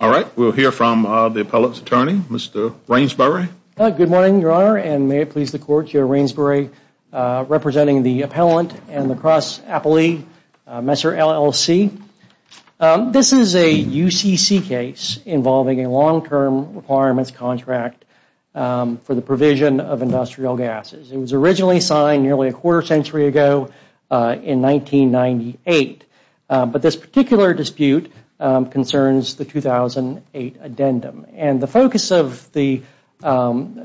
All right, we will hear from the appellate's attorney, Mr. Rainsbury. Good morning, Your Honor, and may it please the Court, Joe Rainsbury, representing the appellant and the cross appellee, Messer, LLC. This is a UCC case involving a long-term requirements contract for the provision of industrial gases. It was originally signed nearly a quarter century ago in 1998. But this particular dispute concerns the 2008 addendum. And the focus of the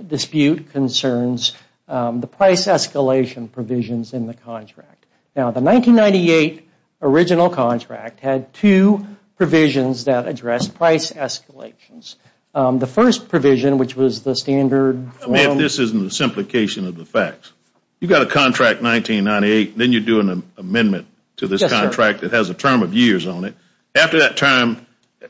dispute concerns the price escalation provisions in the contract. Now, the 1998 original contract had two provisions that addressed price escalations. The first provision, which was the standard... After that time,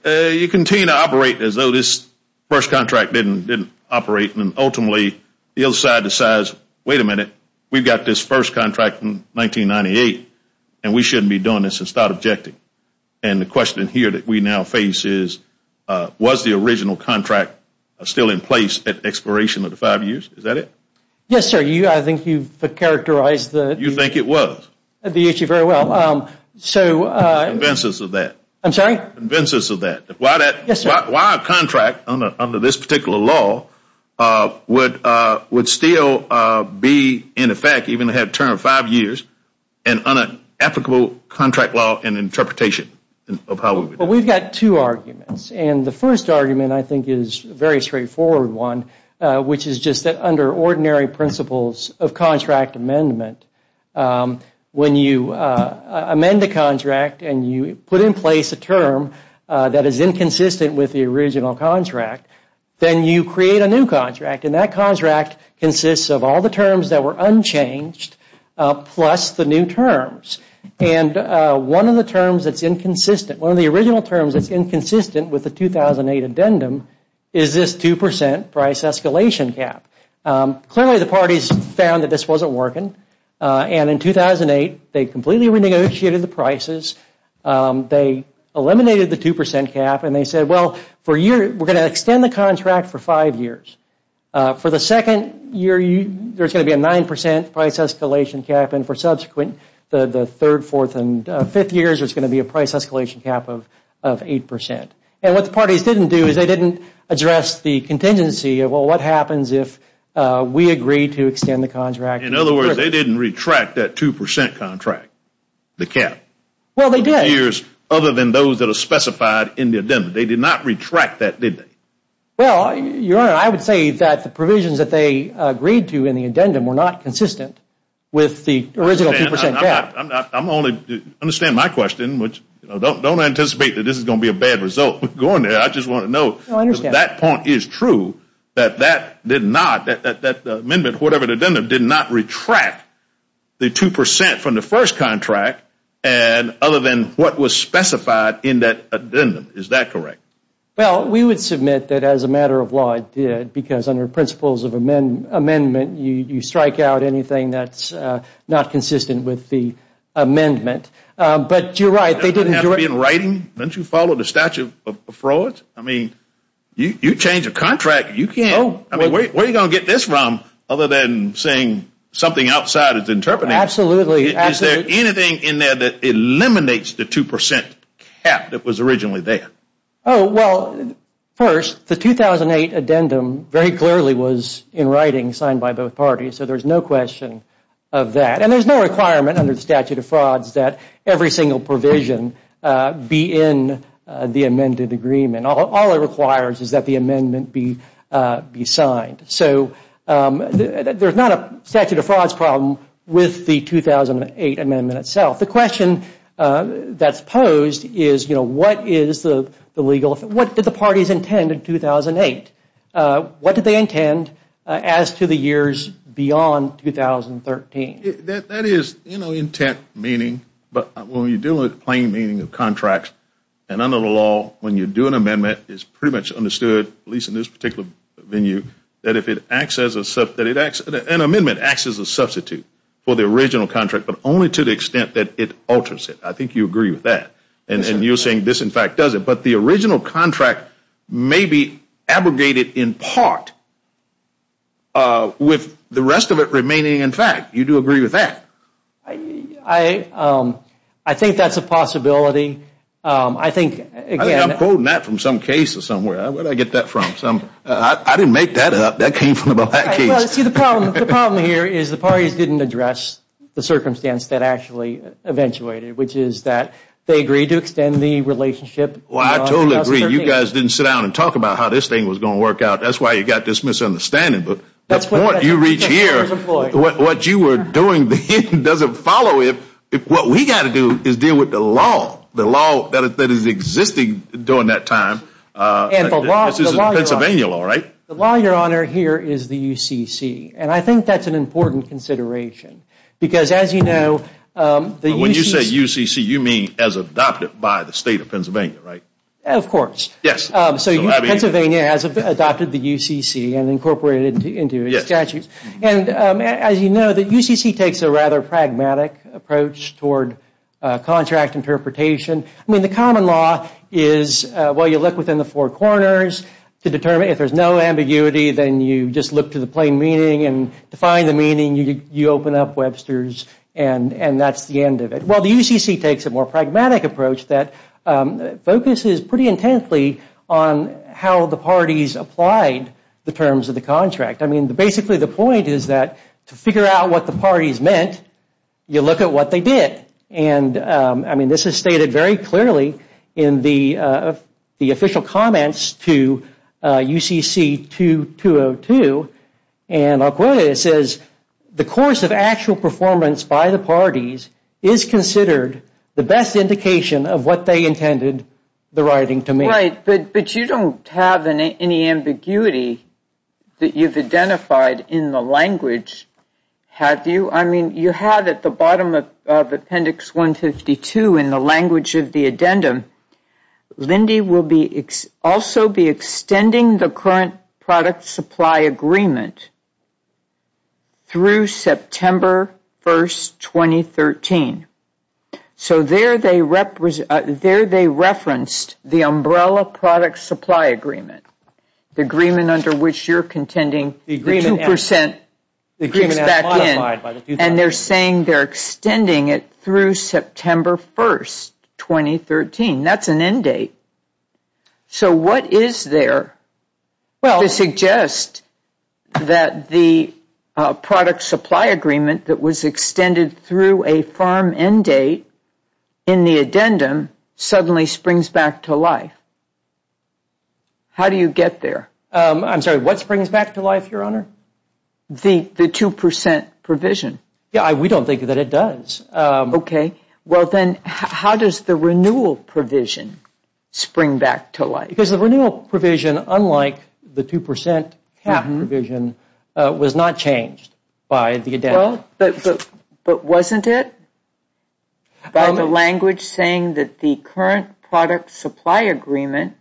you continue to operate as though this first contract didn't operate. And ultimately, the other side decides, wait a minute, we've got this first contract from 1998, and we shouldn't be doing this and start objecting. And the question here that we now face is, was the original contract still in place at expiration of the five years? Is that it? Yes, sir. I think you've characterized the... You think it was? The issue very well. So... Convince us of that. I'm sorry? Convince us of that. Why that... Yes, sir. Why a contract under this particular law would still be in effect, even if it had a term of five years, an unapplicable contract law and interpretation of how... Well, we've got two arguments. And the first argument, I think, is a very straightforward one, which is just that under ordinary principles of contract amendment, when you amend a contract and you put in place a term that is inconsistent with the original contract, then you create a new contract. And that contract consists of all the terms that were unchanged plus the new terms. And one of the terms that's inconsistent, one of the original terms that's inconsistent with the 2008 addendum is this 2% price escalation cap. Clearly, the parties found that this wasn't working. And in 2008, they completely renegotiated the prices. They eliminated the 2% cap and they said, well, for a year, we're going to extend the contract for five years. For the second year, there's going to be a 9% price escalation cap. And for subsequent, the third, fourth, and fifth years, there's going to be a price escalation cap of 8%. And what the parties didn't do is they didn't address the contingency of, well, what happens if we agree to extend the contract? In other words, they didn't retract that 2% contract, the cap. Well, they did. Other than those that are specified in the addendum. They did not retract that, did they? Well, Your Honor, I would say that the provisions that they agreed to in the addendum were not consistent with the original 2% cap. I'm only, understand my question, which, don't anticipate that this is going to be a bad result going there. I just want to know if that point is true, that that did not, that amendment, whatever the addendum, did not retract the 2% from the first contract, other than what was specified in that addendum. Is that correct? Well, we would submit that as a matter of law, it did. Because under principles of amendment, you strike out anything that's not consistent with the amendment. But you're right, they didn't do it. Doesn't it have to be in writing? Don't you follow the statute of frauds? I mean, you change a contract, you can't. I mean, where are you going to get this from? Other than saying something outside is interpreted. Absolutely. Is there anything in there that eliminates the 2% cap that was originally there? Oh, well, first, the 2008 addendum very clearly was in writing, signed by both parties. So there's no question of that. And there's no requirement under the statute of frauds that every single provision be in the amended agreement. All it requires is that the amendment be signed. So there's not a statute of frauds problem with the 2008 amendment itself. The question that's posed is, you know, what is the legal, what did the parties intend in 2008? What did they intend as to the years beyond 2013? That is, you know, intent meaning, but when you're dealing with plain meaning of contracts, and under the law, when you do an amendment, it's pretty much understood, at least in this particular venue, that if it acts as a, an amendment acts as a substitute for the original contract, but only to the extent that it alters it. I think you agree with that. And you're saying this, in fact, does it. But the original contract may be abrogated in part with the rest of it remaining in fact. You do agree with that? I think that's a possibility. I think, again. I think I'm quoting that from some case or somewhere. Where did I get that from? I didn't make that up. That came from a black case. The problem here is the parties didn't address the circumstance that actually eventuated, which is that they agreed to extend the relationship. Well, I totally agree. You guys didn't sit down and talk about how this thing was going to work out. That's why you got this misunderstanding. The point you reach here, what you were doing then doesn't follow it. What we got to do is deal with the law, the law that is existing during that time. And the law. This is Pennsylvania law, right? The law, Your Honor, here is the UCC. And I think that's an important consideration. Because, as you know, the UCC. When you say UCC, you mean as adopted by the State of Pennsylvania, right? Of course. Yes. So Pennsylvania has adopted the UCC and incorporated it into its statutes. Yes. And as you know, the UCC takes a rather pragmatic approach toward contract interpretation. I mean, the common law is, well, you look within the four corners to determine. If there's no ambiguity, then you just look to the plain meaning. And to find the meaning, you open up Webster's and that's the end of it. Well, the UCC takes a more pragmatic approach that focuses pretty intently on how the parties applied the terms of the contract. I mean, basically the point is that to figure out what the parties meant, you look at what they did. And, I mean, this is stated very clearly in the official comments to UCC 2202. And I'll quote it. It says, the course of actual performance by the parties is considered the best indication of what they intended the writing to mean. Right. But you don't have any ambiguity that you've identified in the language, have you? I mean, you have at the bottom of Appendix 152 in the language of the addendum, Lindy will also be extending the current product supply agreement through September 1st, 2013. So there they referenced the umbrella product supply agreement, the agreement under which you're contending the 2% goes back in. And they're saying they're extending it through September 1st, 2013. That's an end date. So what is there to suggest that the product supply agreement that was extended through a firm end date in the addendum suddenly springs back to life? How do you get there? I'm sorry, what springs back to life, Your Honor? The 2% provision. Yeah, we don't think that it does. Okay. Well, then, how does the renewal provision spring back to life? Because the renewal provision, unlike the 2% provision, was not changed by the addendum. But wasn't it? By the language saying that the current product supply agreement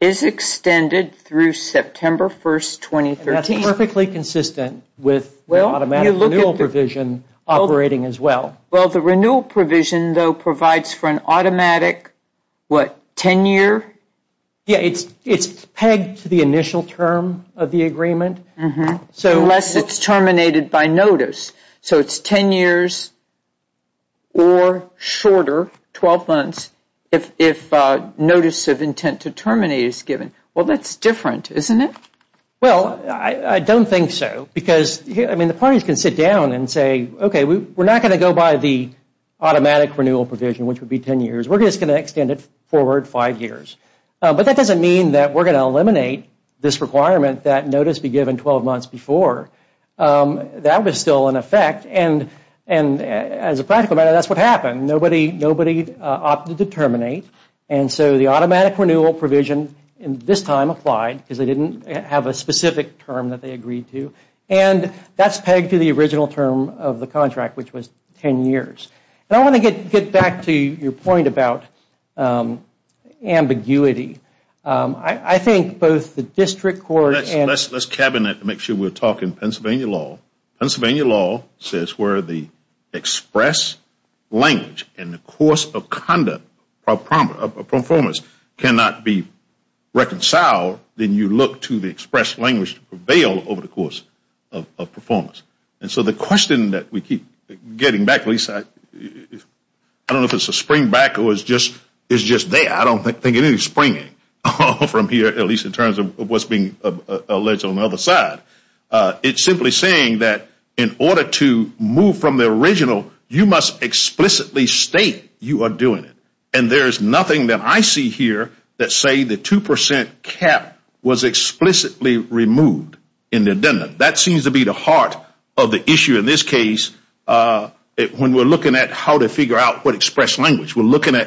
is extended through September 1st, 2013. That's perfectly consistent with the automatic renewal provision operating as well. Well, the renewal provision, though, provides for an automatic, what, 10-year? Yeah, it's pegged to the initial term of the agreement. Unless it's terminated by notice. So it's 10 years or shorter, 12 months, if notice of intent to terminate is given. Well, that's different, isn't it? Well, I don't think so. Because, I mean, the parties can sit down and say, okay, we're not going to go by the automatic renewal provision, which would be 10 years. We're just going to extend it forward five years. But that doesn't mean that we're going to eliminate this requirement that notice be given 12 months before. That was still in effect. And as a practical matter, that's what happened. Nobody opted to terminate. And so the automatic renewal provision this time applied because they didn't have a specific term that they agreed to. And that's pegged to the original term of the contract, which was 10 years. And I want to get back to your point about ambiguity. I think both the district court and… Let's cabinet and make sure we're talking Pennsylvania law. Pennsylvania law says where the express language and the course of conduct of performance cannot be reconciled, then you look to the express language to prevail over the course of performance. And so the question that we keep getting back, at least I don't know if it's a springback or it's just there. I don't think it is springing from here, at least in terms of what's being alleged on the other side. It's simply saying that in order to move from the original, you must explicitly state you are doing it. And there is nothing that I see here that say the 2% cap was explicitly removed in the agenda. That seems to be the heart of the issue in this case when we're looking at how to figure out what express language. We can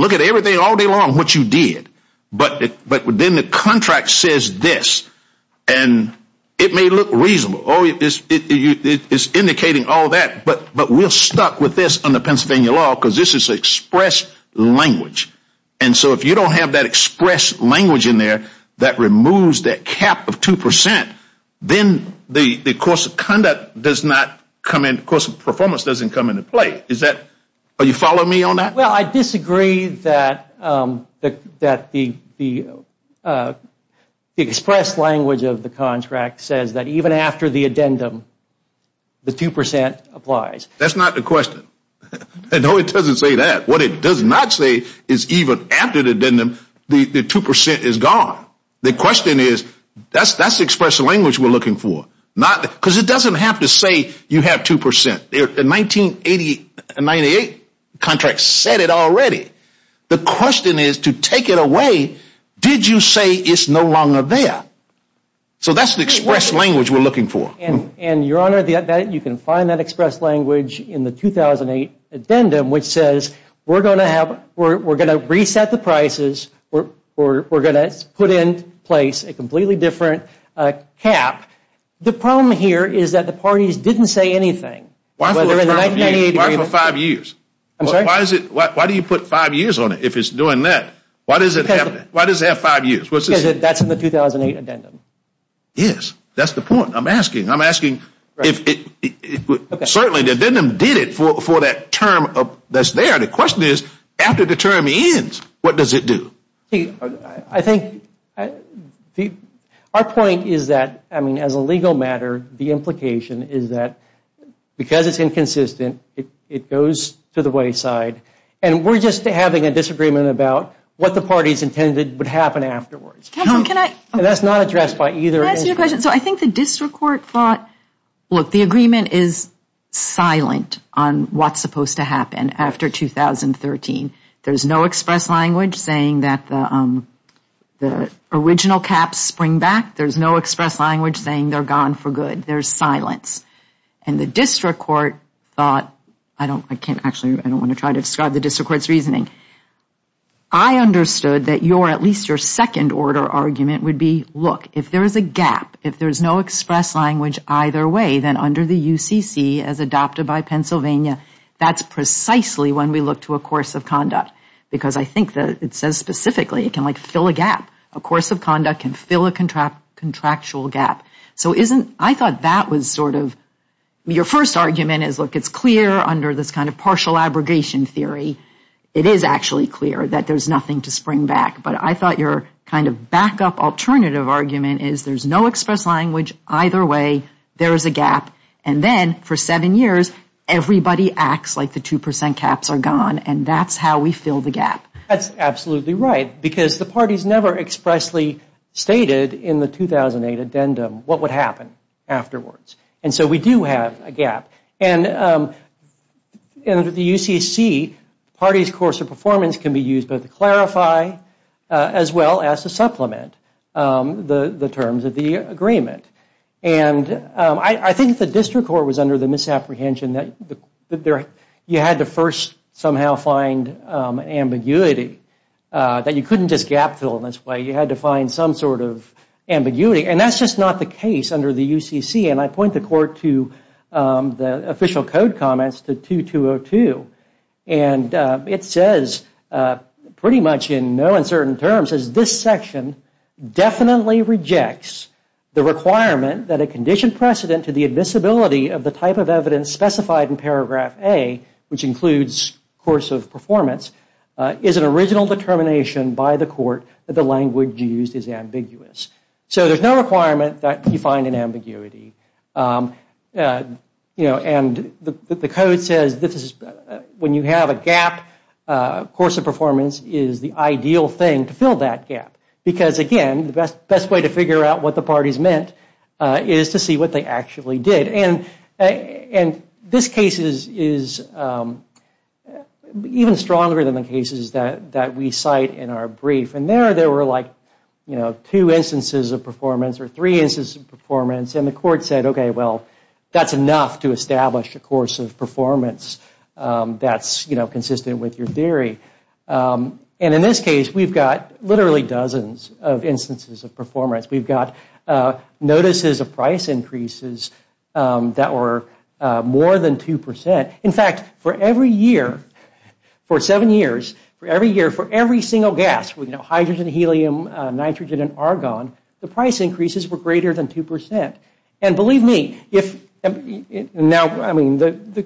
look at everything all day long, what you did, but then the contract says this. And it may look reasonable. It's indicating all that, but we're stuck with this under Pennsylvania law because this is express language. And so if you don't have that express language in there that removes that cap of 2%, then the course of conduct does not come in, the course of performance doesn't come into play. Are you following me on that? Well, I disagree that the express language of the contract says that even after the addendum, the 2% applies. That's not the question. No, it doesn't say that. What it does not say is even after the addendum, the 2% is gone. The question is, that's the express language we're looking for. Because it doesn't have to say you have 2%. The 1988 contract said it already. The question is to take it away, did you say it's no longer there? So that's the express language we're looking for. You can find that express language in the 2008 addendum, which says we're going to reset the prices, we're going to put in place a completely different cap. The problem here is that the parties didn't say anything. Why for five years? I'm sorry? Why do you put five years on it if it's doing that? Why does it have five years? Because that's in the 2008 addendum. Yes, that's the point. I'm asking, I'm asking, certainly the addendum did it for that term that's there. The question is, after the term ends, what does it do? I think our point is that, I mean, as a legal matter, the implication is that because it's inconsistent, it goes to the wayside. And we're just having a disagreement about what the parties intended would happen afterwards. That's not addressed by either end. Can I ask you a question? So I think the district court thought, look, the agreement is silent on what's supposed to happen after 2013. There's no express language saying that the original caps spring back. There's no express language saying they're gone for good. There's silence. And the district court thought, I can't actually, I don't want to try to describe the district court's reasoning. I understood that your, at least your second order argument would be, look, if there is a gap, if there's no express language either way, then under the UCC as adopted by Pennsylvania, that's precisely when we look to a course of conduct. Because I think that it says specifically, it can, like, fill a gap. A course of conduct can fill a contractual gap. So isn't, I thought that was sort of, your first argument is, look, it's clear under this kind of partial abrogation theory. It is actually clear that there's nothing to spring back. But I thought your kind of backup alternative argument is there's no express language either way. There is a gap. And then for seven years, everybody acts like the 2% caps are gone. And that's how we fill the gap. That's absolutely right. Because the parties never expressly stated in the 2008 addendum what would happen afterwards. And so we do have a gap. And under the UCC, parties' course of performance can be used both to clarify as well as to supplement the terms of the agreement. And I think the district court was under the misapprehension that you had to first somehow find ambiguity, that you couldn't just gap fill in this way. You had to find some sort of ambiguity. And that's just not the case under the UCC. And I point the court to the official code comments to 2202. And it says, pretty much in no uncertain terms, this section definitely rejects the requirement that a conditioned precedent to the admissibility of the type of evidence specified in paragraph A, which includes course of performance, is an original determination by the court that the language used is ambiguous. So there's no requirement that you find an ambiguity. And the code says when you have a gap, course of performance is the ideal thing to fill that gap. Because, again, the best way to figure out what the parties meant is to see what they actually did. And this case is even stronger than the cases that we cite in our brief. And there, there were like two instances of performance or three instances of performance. And the court said, OK, well, that's enough to establish a course of performance that's consistent with your theory. And in this case, we've got literally dozens of instances of performance. We've got notices of price increases that were more than 2%. In fact, for every year, for seven years, for every year, for every single gas, hydrogen, helium, nitrogen, and argon, the price increases were greater than 2%. And believe me, the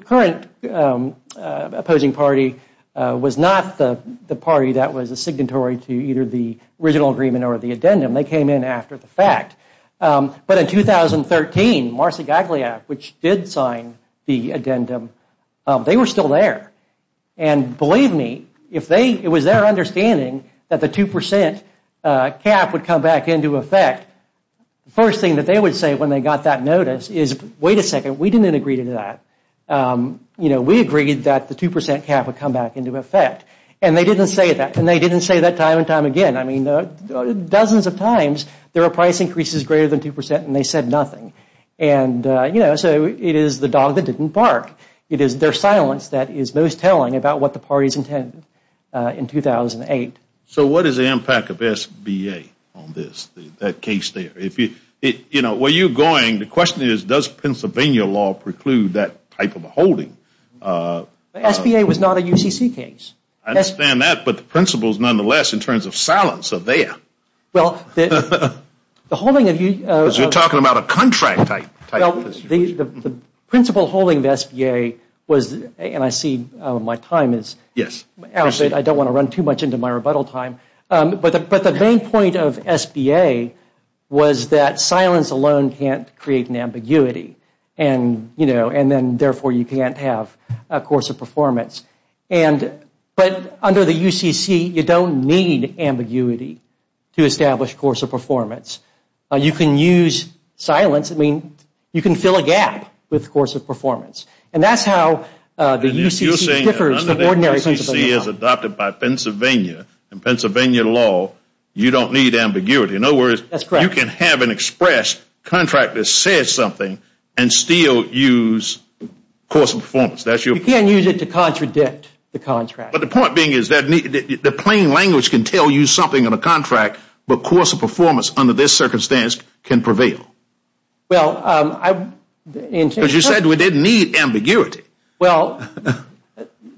current opposing party was not the party that was a signatory to either the original agreement or the addendum. They came in after the fact. But in 2013, Marcy Gagliac, which did sign the addendum, they were still there. And believe me, if it was their understanding that the 2% cap would come back into effect, the first thing that they would say when they got that notice is, wait a second, we didn't agree to that. You know, we agreed that the 2% cap would come back into effect. And they didn't say that. And they didn't say that time and time again. I mean, dozens of times there were price increases greater than 2% and they said nothing. And, you know, so it is the dog that didn't bark. It is their silence that is most telling about what the parties intended in 2008. So what is the impact of SBA on this, that case there? You know, where you're going, the question is, does Pennsylvania law preclude that type of a holding? SBA was not a UCC case. I understand that. But the principles, nonetheless, in terms of silence are there. Well, the holding of U- Because you're talking about a contract type. Well, the principle holding of SBA was, and I see my time is out. I don't want to run too much into my rebuttal time. But the main point of SBA was that silence alone can't create an ambiguity. And, you know, and then therefore you can't have a course of performance. But under the UCC, you don't need ambiguity to establish course of performance. You can use silence. I mean, you can fill a gap with course of performance. And that's how the UCC differs from ordinary Pennsylvania law. UCC is adopted by Pennsylvania. In Pennsylvania law, you don't need ambiguity. In other words, you can have an express contract that says something and still use course of performance. You can't use it to contradict the contract. But the point being is that the plain language can tell you something on a contract, but course of performance under this circumstance can prevail. Well, I- Because you said we didn't need ambiguity. Well,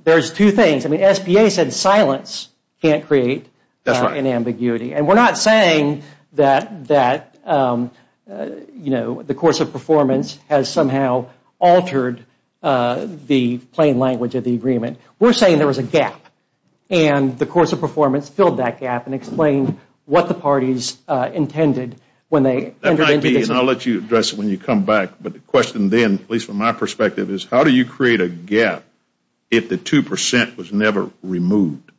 there's two things. I mean, SBA said silence can't create an ambiguity. And we're not saying that, you know, the course of performance has somehow altered the plain language of the agreement. We're saying there was a gap. And the course of performance filled that gap and explained what the parties intended when they- That might be, and I'll let you address it when you come back. But the question then, at least from my perspective, is how do you create a gap if the 2% was never removed?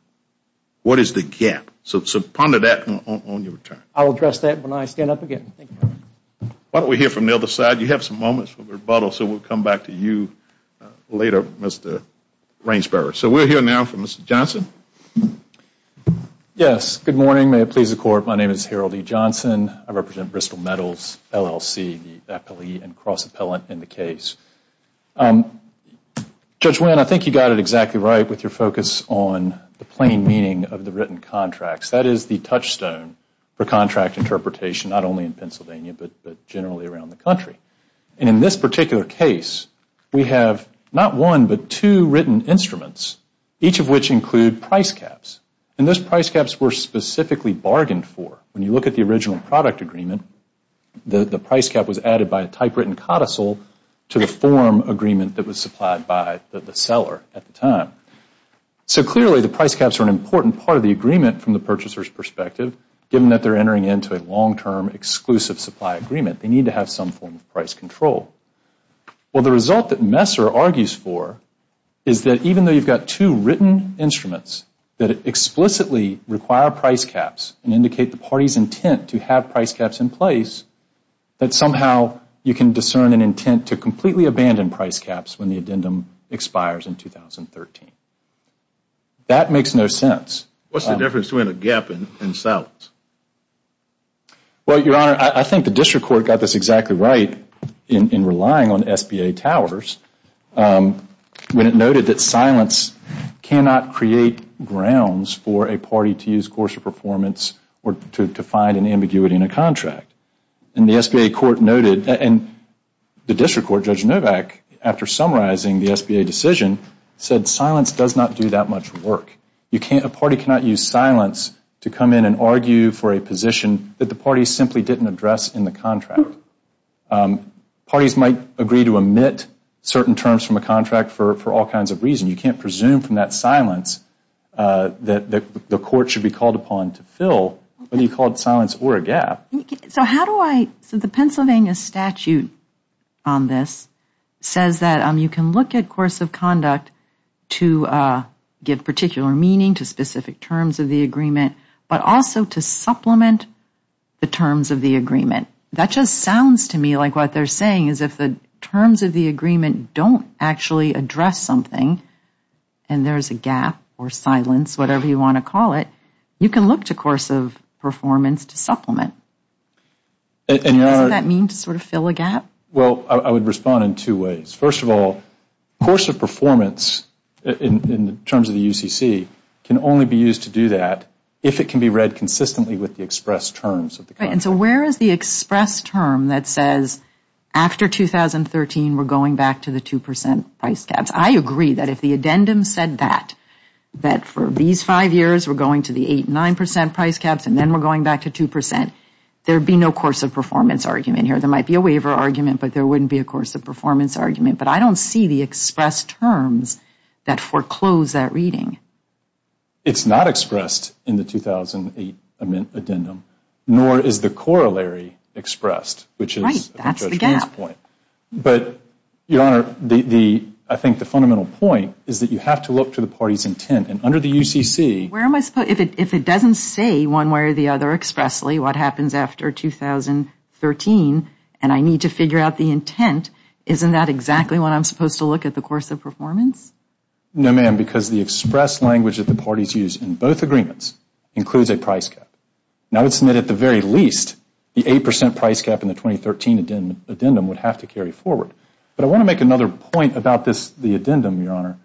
What is the gap? So ponder that on your return. I'll address that when I stand up again. Thank you. Why don't we hear from the other side? You have some moments for rebuttal, so we'll come back to you later, Mr. Rainsberger. So we'll hear now from Mr. Johnson. Yes. Good morning. May it please the Court, my name is Harold E. Johnson. I represent Bristol Metals, LLC, the appellee and cross-appellant in the case. Judge Winn, I think you got it exactly right with your focus on the plain meaning of the written contracts. That is the touchstone for contract interpretation, not only in Pennsylvania, but generally around the country. And in this particular case, we have not one, but two written instruments, each of which include price caps. And those price caps were specifically bargained for. When you look at the original product agreement, the price cap was added by a typewritten codicil to the form agreement that was supplied by the seller at the time. So clearly, the price caps are an important part of the agreement from the purchaser's perspective, given that they're entering into a long-term exclusive supply agreement. They need to have some form of price control. Well, the result that Messer argues for is that even though you've got two written instruments that explicitly require price caps and indicate the party's intent to have price caps in place, that somehow you can discern an intent to completely abandon price caps when the addendum expires in 2013. That makes no sense. What's the difference between a gap and silence? Well, Your Honor, I think the district court got this exactly right in relying on SBA towers when it noted that silence cannot create grounds for a party to use coarser performance or to find an ambiguity in a contract. And the SBA court noted, and the district court, Judge Novak, after summarizing the SBA decision, said silence does not do that much work. A party cannot use silence to come in and argue for a position that the party simply didn't address in the contract. Parties might agree to omit certain terms from a contract for all kinds of reasons. You can't presume from that silence that the court should be called upon to fill, whether you call it silence or a gap. So the Pennsylvania statute on this says that you can look at course of conduct to give particular meaning to specific terms of the agreement, but also to supplement the terms of the agreement. That just sounds to me like what they're saying is if the terms of the agreement don't actually address something and there's a gap or silence, whatever you want to call it, you can look to coarser performance to supplement. Doesn't that mean to sort of fill a gap? Well, I would respond in two ways. First of all, coarser performance in terms of the UCC can only be used to do that if it can be read consistently with the expressed terms of the contract. And so where is the expressed term that says after 2013 we're going back to the 2% price caps? I agree that if the addendum said that, that for these five years we're going to the 8%, 9% price caps and then we're going back to 2%, there would be no coarser performance argument here. There might be a waiver argument, but there wouldn't be a coarser performance argument. But I don't see the expressed terms that foreclose that reading. It's not expressed in the 2008 addendum, nor is the corollary expressed. Right, that's the gap. But, Your Honor, I think the fundamental point is that you have to look to the party's intent. And under the UCC... If it doesn't say one way or the other expressly what happens after 2013 and I need to figure out the intent, isn't that exactly what I'm supposed to look at the coarser performance? No, ma'am, because the expressed language that the parties use in both agreements includes a price cap. Now, isn't it at the very least the 8% price cap in the 2013 addendum would have to carry forward? But I want to make another point about the addendum, Your Honor.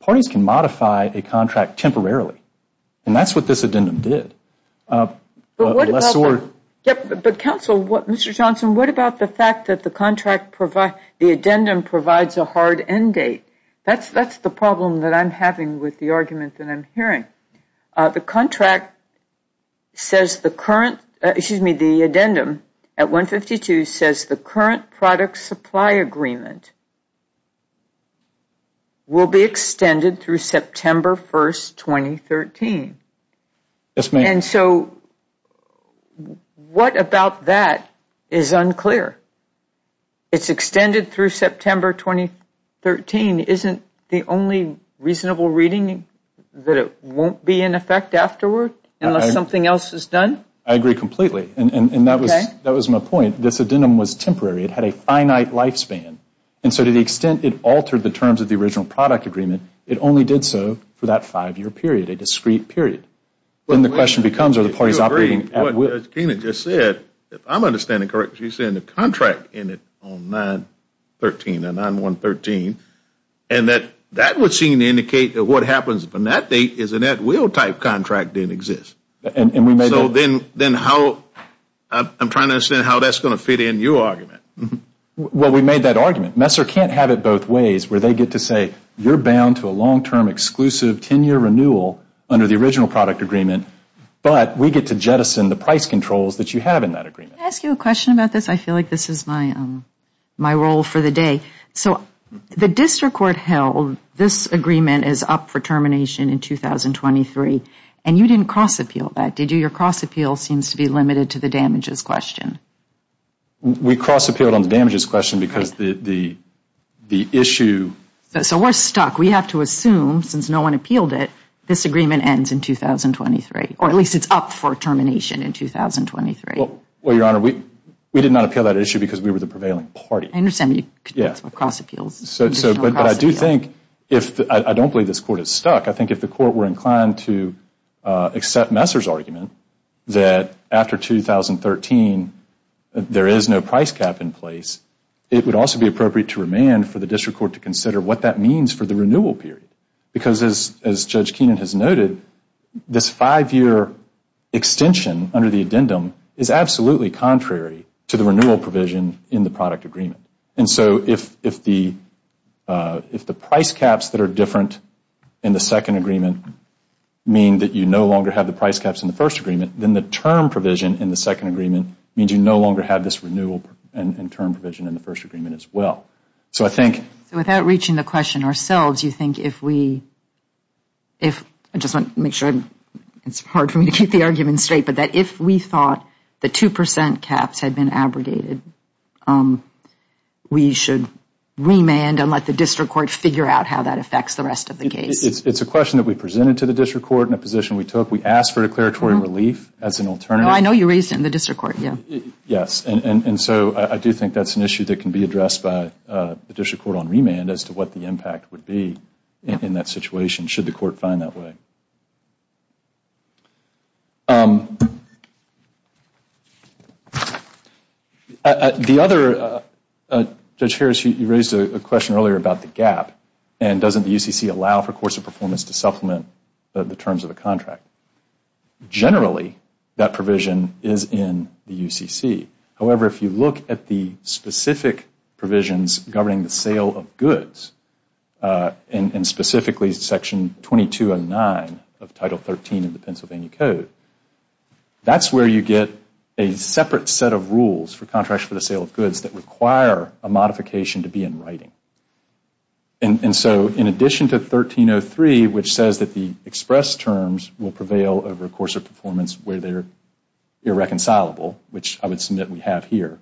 Parties can modify a contract temporarily. And that's what this addendum did. Unless the word... But, counsel, Mr. Johnson, what about the fact that the addendum provides a hard end date? That's the problem that I'm having with the argument that I'm hearing. The contract says the current, excuse me, the addendum at 152 says the current product supply agreement will be extended through September 1, 2013. Yes, ma'am. And so what about that is unclear? It's extended through September 2013. Isn't the only reasonable reading that it won't be in effect afterward unless something else is done? I agree completely. And that was my point. This addendum was temporary. It had a finite lifespan. And so to the extent it altered the terms of the original product agreement, it only did so for that five-year period, a discrete period. And the question becomes are the parties operating at will? If you agree with what Tina just said, if I'm understanding correctly, she's saying the contract ended on 9-13, the 9-1-13, and that that would seem to indicate that what happens from that date is an at-will type contract didn't exist. So then how... I'm trying to understand how that's going to fit in your argument. Well, we made that argument. Messer can't have it both ways where they get to say you're bound to a long-term, exclusive 10-year renewal under the original product agreement, but we get to jettison the price controls that you have in that agreement. Can I ask you a question about this? I feel like this is my role for the day. So the district court held this agreement is up for termination in 2023, and you didn't cross-appeal that, did you? Your cross-appeal seems to be limited to the damages question. We cross-appealed on the damages question because the issue... So we're stuck. We have to assume, since no one appealed it, this agreement ends in 2023, or at least it's up for termination in 2023. Well, Your Honor, we did not appeal that issue because we were the prevailing party. I understand you cross-appealed. But I do think if... I don't believe this court is stuck. I think if the court were inclined to accept Messer's argument that after 2013 there is no price cap in place, it would also be appropriate to remand for the district court to consider what that means for the renewal period. Because as Judge Keenan has noted, this five-year extension under the addendum is absolutely contrary to the renewal provision in the product agreement. And so if the price caps that are different in the second agreement mean that you no longer have the price caps in the first agreement, then the term provision in the second agreement means you no longer have this renewal and term provision in the first agreement as well. So I think... Without reaching the question ourselves, you think if we... I just want to make sure it's hard for me to keep the argument straight, but that if we thought the 2 percent caps had been abrogated, we should remand and let the district court figure out how that affects the rest of the case. It's a question that we presented to the district court in a position we took. We asked for declaratory relief as an alternative. I know you raised it in the district court. Yes. And so I do think that's an issue that can be addressed by the district court on remand as to what the impact would be in that situation should the court find that way. Thank you. The other... Judge Harris, you raised a question earlier about the gap and doesn't the UCC allow for course of performance to supplement the terms of the contract. Generally, that provision is in the UCC. However, if you look at the specific provisions governing the sale of goods and specifically Section 2209 of Title 13 of the Pennsylvania Code, that's where you get a separate set of rules for contracts for the sale of goods that require a modification to be in writing. And so in addition to 1303, which says that the express terms will prevail over course of performance where they're irreconcilable, which I would submit we have here,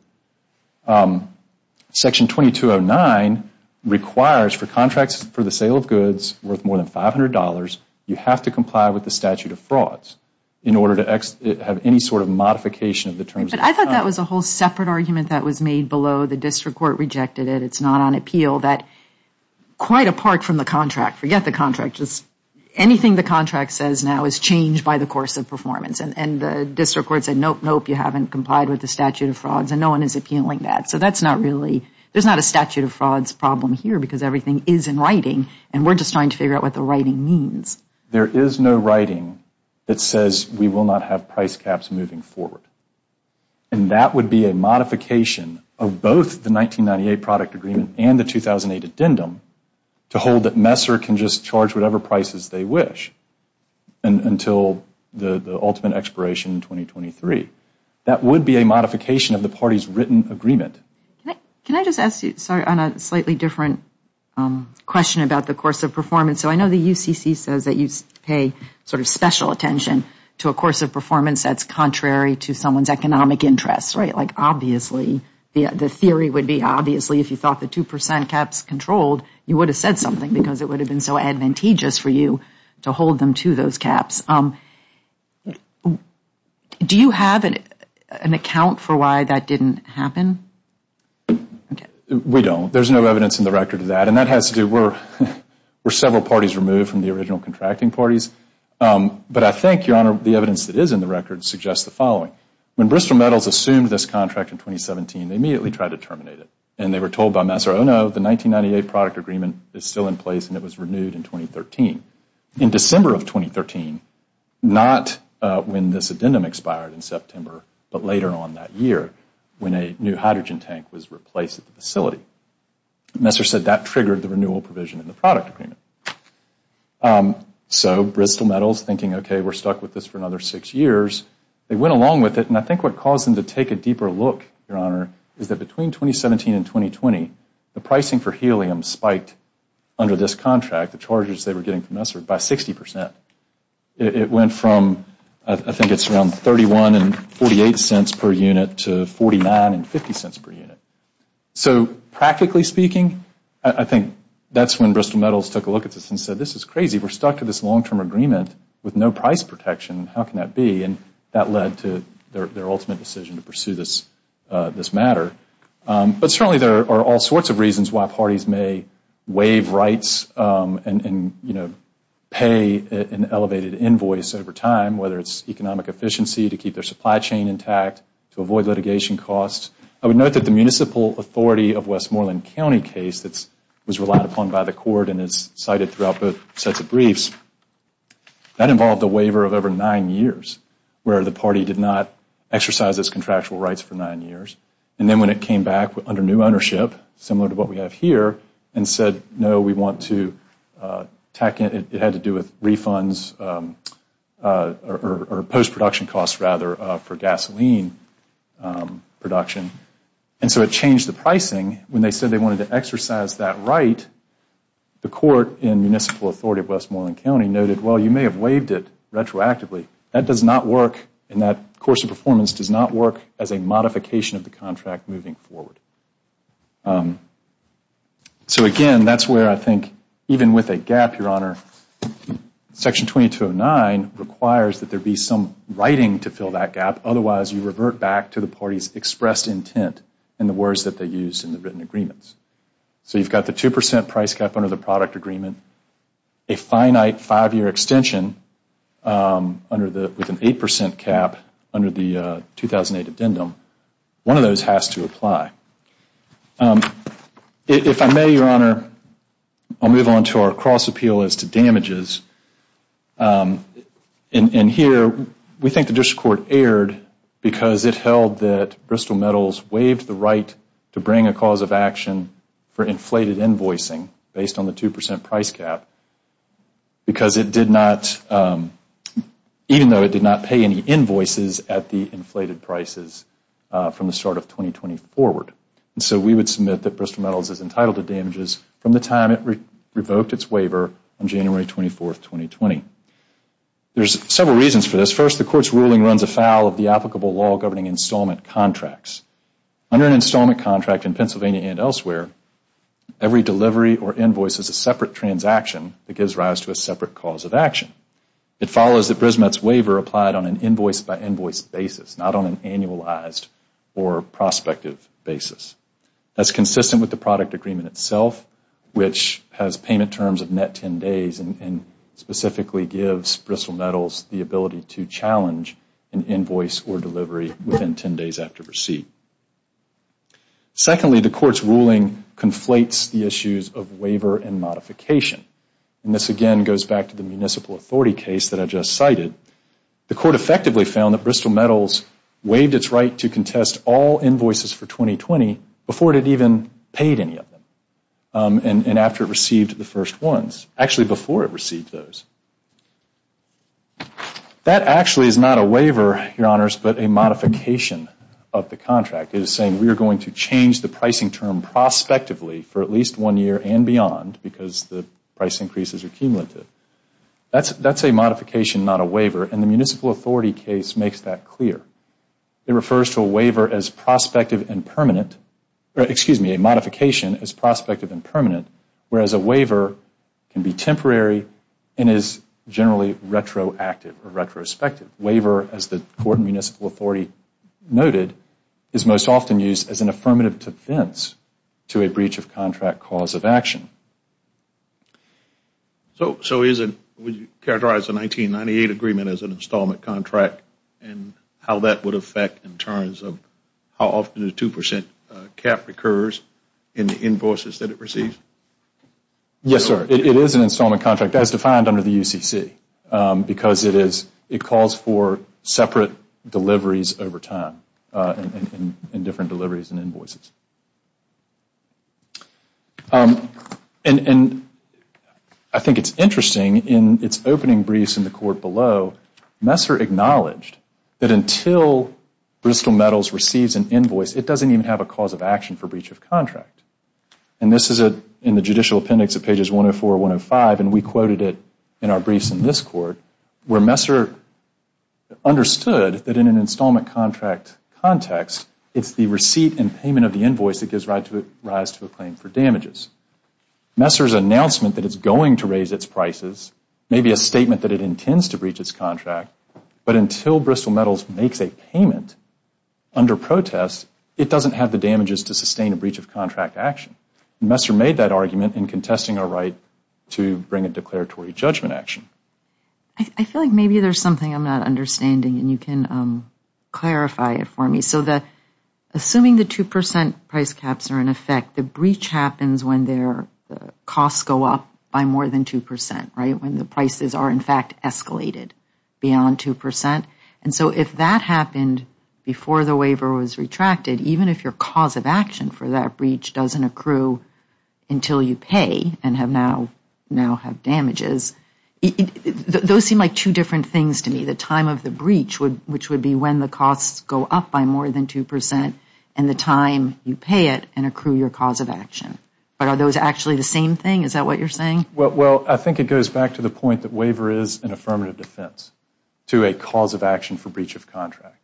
Section 2209 requires for contracts for the sale of goods worth more than $500, you have to comply with the statute of frauds in order to have any sort of modification of the terms of the contract. But I thought that was a whole separate argument that was made below. The district court rejected it. It's not on appeal that quite apart from the contract, forget the contract, just anything the contract says now is changed by the course of performance. And the district court said, nope, nope, you haven't complied with the statute of frauds and no one is appealing that. So that's not really, there's not a statute of frauds problem here because everything is in writing and we're just trying to figure out what the writing means. There is no writing that says we will not have price caps moving forward. And that would be a modification of both the 1998 product agreement and the 2008 addendum to hold that Messer can just charge whatever prices they wish until the ultimate expiration in 2023. That would be a modification of the party's written agreement. Can I just ask you, sorry, on a slightly different question about the course of performance. So I know the UCC says that you pay sort of special attention to a course of performance that's contrary to someone's economic interests, right? Like obviously, the theory would be obviously if you thought the 2% caps controlled, you would have said something because it would have been so advantageous for you to hold them to those caps. Do you have an account for why that didn't happen? We don't. There's no evidence in the record of that. And that has to do, we're several parties removed from the original contracting parties. But I think, Your Honor, the evidence that is in the record suggests the following. When Bristol Metals assumed this contract in 2017, they immediately tried to terminate it. And they were told by Messer, oh, no, the 1998 product agreement is still in place and it was renewed in 2013. In December of 2013, not when this addendum expired in September, but later on that year when a new hydrogen tank was replaced at the facility. Messer said that triggered the renewal provision in the product agreement. So Bristol Metals thinking, okay, we're stuck with this for another six years, they went along with it and I think what caused them to take a deeper look, Your Honor, is that between 2017 and 2020, the pricing for helium spiked under this contract, the charges they were getting from Messer, by 60%. It went from, I think it's around $0.31 and $0.48 per unit to $0.49 and $0.50 per unit. So practically speaking, I think that's when Bristol Metals took a look at this and said, this is crazy. We're stuck to this long-term agreement with no price protection. How can that be? And that led to their ultimate decision to pursue this matter. But certainly there are all sorts of reasons why parties may waive rights and pay an elevated invoice over time, whether it's economic efficiency to keep their supply chain intact, to avoid litigation costs. I would note that the municipal authority of Westmoreland County case that was relied upon by the court and is cited throughout both sets of briefs, that involved a waiver of over nine years where the party did not exercise its contractual rights for nine years. And then when it came back under new ownership, similar to what we have here, and said, no, we want to tack in, it had to do with refunds or post-production costs rather for gasoline production. And so it changed the pricing. When they said they wanted to exercise that right, the court in municipal authority of Westmoreland County noted, well, you may have waived it retroactively. That does not work, and that course of performance does not work as a modification of the contract moving forward. So again, that's where I think even with a gap, Your Honor, Section 2209 requires that there be some writing to fill that gap. Otherwise, you revert back to the party's expressed intent in the words that they used in the written agreements. So you've got the 2% price cap under the product agreement, a finite five-year extension with an 8% cap under the 2008 addendum. One of those has to apply. If I may, Your Honor, I'll move on to our cross appeal as to damages. And here we think the district court erred because it held that Bristol Metals waived the right to bring a cause of action for inflated invoicing based on the 2% price cap because it did not, even though it did not pay any invoices at the inflated prices from the start of 2020 forward. And so we would submit that Bristol Metals is entitled to damages from the time it revoked its waiver on January 24, 2020. There's several reasons for this. First, the court's ruling runs afoul of the applicable law governing installment contracts. Under an installment contract in Pennsylvania and elsewhere, every delivery or invoice is a separate transaction that gives rise to a separate cause of action. It follows that BrisMet's waiver applied on an invoice-by-invoice basis, not on an annualized or prospective basis. That's consistent with the product agreement itself, which has payment terms of net 10 days and specifically gives Bristol Metals the ability to challenge an invoice or delivery within 10 days after receipt. Secondly, the court's ruling conflates the issues of waiver and modification. And this again goes back to the municipal authority case that I just cited. The court effectively found that Bristol Metals waived its right to contest all invoices for 2020 before it had even paid any of them and after it received the first ones. Actually, before it received those. That actually is not a waiver, Your Honors, but a modification of the contract. It is saying we are going to change the pricing term prospectively for at least one year and beyond because the price increases are cumulative. That's a modification, not a waiver, and the municipal authority case makes that clear. It refers to a waiver as prospective and permanent, or excuse me, a modification as prospective and permanent, whereas a waiver can be temporary and is generally retroactive or retrospective. A waiver, as the court and municipal authority noted, is most often used as an affirmative defense to a breach of contract cause of action. So would you characterize the 1998 agreement as an installment contract and how that would affect in terms of how often the 2% cap recurs in the invoices that it receives? Yes, sir. It is an installment contract as defined under the UCC because it calls for separate deliveries over time and different deliveries and invoices. I think it is interesting in its opening briefs in the court below, Messer acknowledged that until Bristol Metals receives an invoice, it doesn't even have a cause of action for breach of contract. This is in the judicial appendix at pages 104 and 105, and we quoted it in our briefs in this court, where Messer understood that in an installment contract context, it's the receipt and payment of the invoice that gives rise to a claim for damages. Messer's announcement that it's going to raise its prices may be a statement that it intends to breach its contract, but until Bristol Metals makes a payment under protest, it doesn't have the damages to sustain a breach of contract action. Messer made that argument in contesting our right to bring a declaratory judgment action. I feel like maybe there's something I'm not understanding, and you can clarify it for me. Assuming the 2% price caps are in effect, the breach happens when the costs go up by more than 2%, when the prices are, in fact, escalated beyond 2%. If that happened before the waiver was retracted, even if your cause of action for that breach doesn't accrue until you pay and now have damages, those seem like two different things to me. The time of the breach, which would be when the costs go up by more than 2%, and the time you pay it and accrue your cause of action. But are those actually the same thing? Is that what you're saying? Well, I think it goes back to the point that waiver is an affirmative defense to a cause of action for breach of contract.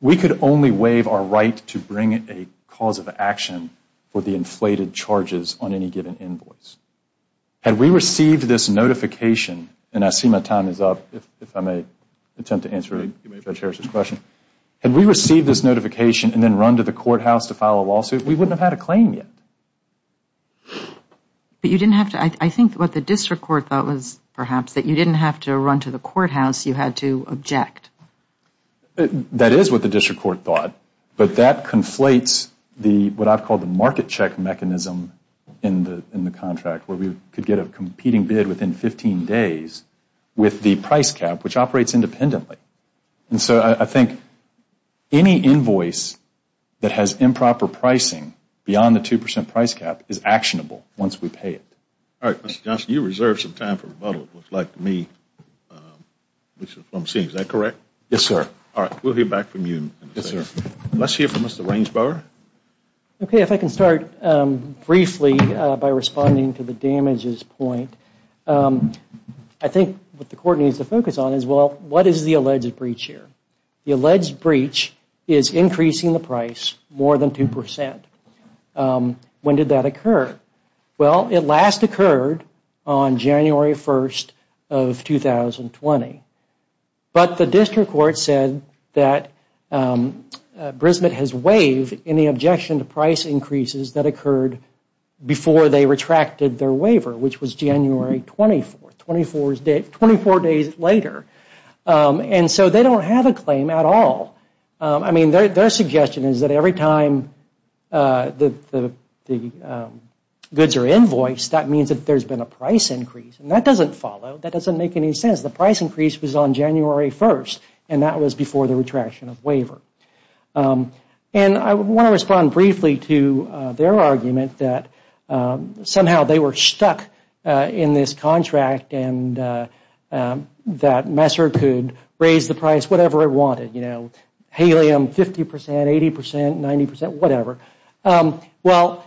We could only waive our right to bring a cause of action for the inflated charges on any given invoice. Had we received this notification, and I see my time is up, if I may attempt to answer Judge Harris's question. Had we received this notification and then run to the courthouse to file a lawsuit, we wouldn't have had a claim yet. But you didn't have to. I think what the district court thought was, perhaps, that you didn't have to run to the courthouse. You had to object. That is what the district court thought. But that conflates what I've called the market check mechanism in the contract, where we could get a competing bid within 15 days with the price cap, which operates independently. And so I think any invoice that has improper pricing beyond the 2% price cap is actionable once we pay it. All right, Mr. Johnson, you reserved some time for rebuttal, it looks like to me. Is that correct? Yes, sir. All right, we'll hear back from you. Let's hear from Mr. Rainsbower. Okay, if I can start briefly by responding to the damages point. I think what the court needs to focus on is, well, what is the alleged breach here? The alleged breach is increasing the price more than 2%. When did that occur? Well, it last occurred on January 1st of 2020. But the district court said that Brisbane has waived any objection to price increases that occurred before they retracted their waiver, which was January 24th, 24 days later. And so they don't have a claim at all. I mean, their suggestion is that every time the goods are invoiced, that means that there's been a price increase. And that doesn't follow. That doesn't make any sense. The price increase was on January 1st, and that was before the retraction of waiver. And I want to respond briefly to their argument that somehow they were stuck in this contract and that Messer could raise the price whatever it wanted, you know, helium 50%, 80%, 90%, whatever. Well,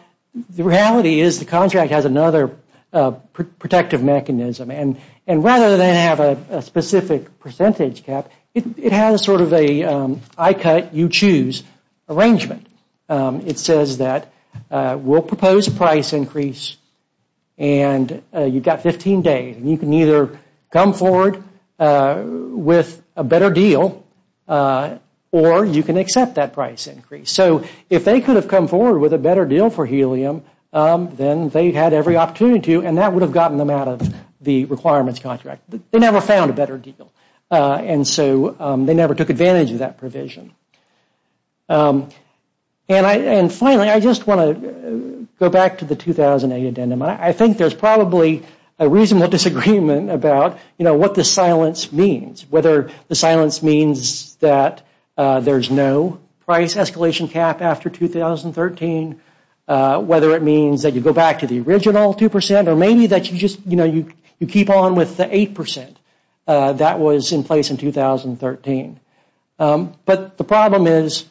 the reality is the contract has another protective mechanism. And rather than have a specific percentage cap, it has sort of a I cut, you choose arrangement. It says that we'll propose a price increase, and you've got 15 days. And you can either come forward with a better deal, or you can accept that price increase. So if they could have come forward with a better deal for helium, then they had every opportunity to, and that would have gotten them out of the requirements contract. They never found a better deal. And so they never took advantage of that provision. And finally, I just want to go back to the 2008 addendum. I think there's probably a reasonable disagreement about, you know, what the silence means, whether the silence means that there's no price escalation cap after 2013, whether it means that you go back to the original 2%, or maybe that you just, you know, you keep on with the 8% that was in place in 2013. But the problem is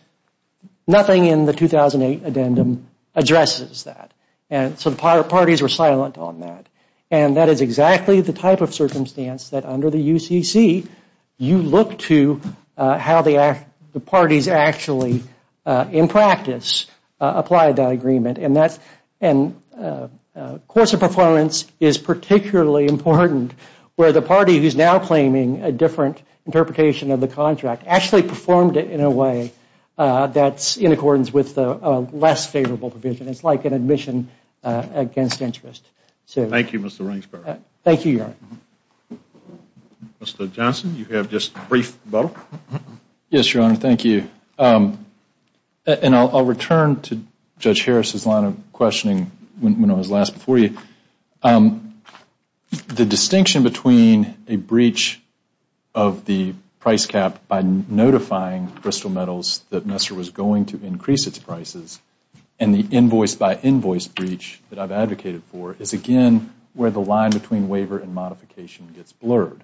nothing in the 2008 addendum addresses that. And so the parties were silent on that. And that is exactly the type of circumstance that under the UCC, you look to how the parties actually, in practice, apply that agreement. And course of performance is particularly important, where the party who's now claiming a different interpretation of the contract actually performed it in a way that's in accordance with a less favorable provision. It's like an admission against interest. Thank you, Mr. Ringsberg. Thank you, Your Honor. Mr. Johnson, you have just a brief bubble. Yes, Your Honor, thank you. And I'll return to Judge Harris' line of questioning when I was last before you. The distinction between a breach of the price cap by notifying Crystal Metals that Nestor was going to increase its prices and the invoice-by-invoice breach that I've advocated for is, again, where the line between waiver and modification gets blurred.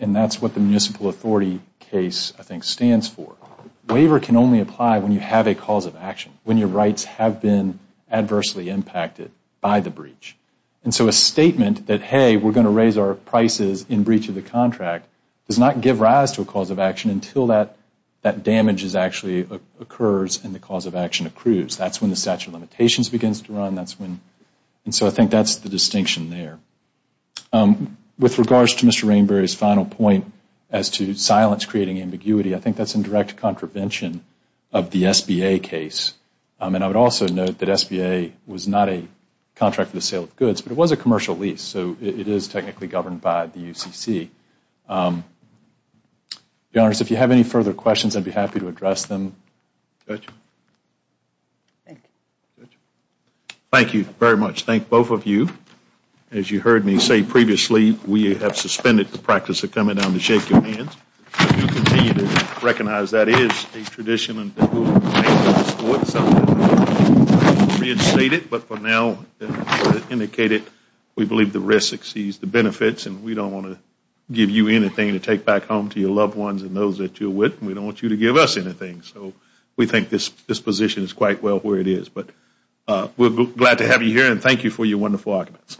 And that's what the municipal authority case, I think, stands for. Waiver can only apply when you have a cause of action, when your rights have been adversely impacted by the breach. And so a statement that, hey, we're going to raise our prices in breach of the contract does not give rise to a cause of action until that damage actually occurs and the cause of action accrues. That's when the statute of limitations begins to run. And so I think that's the distinction there. With regards to Mr. Rainbury's final point as to silence creating ambiguity, I think that's in direct contravention of the SBA case. And I would also note that SBA was not a contract for the sale of goods, but it was a commercial lease, so it is technically governed by the UCC. Your Honors, if you have any further questions, I'd be happy to address them. Thank you very much. Thank both of you. As you heard me say previously, we have suspended the practice of coming down to shake your hands. We do continue to recognize that is a tradition and we will be able to reinstate it. But for now, as I indicated, we believe the risk exceeds the benefits, and we don't want to give you anything to take back home to your loved ones and those that you're with, and we don't want you to give us anything. So we think this position is quite well where it is. But we're glad to have you here, and thank you for your wonderful arguments.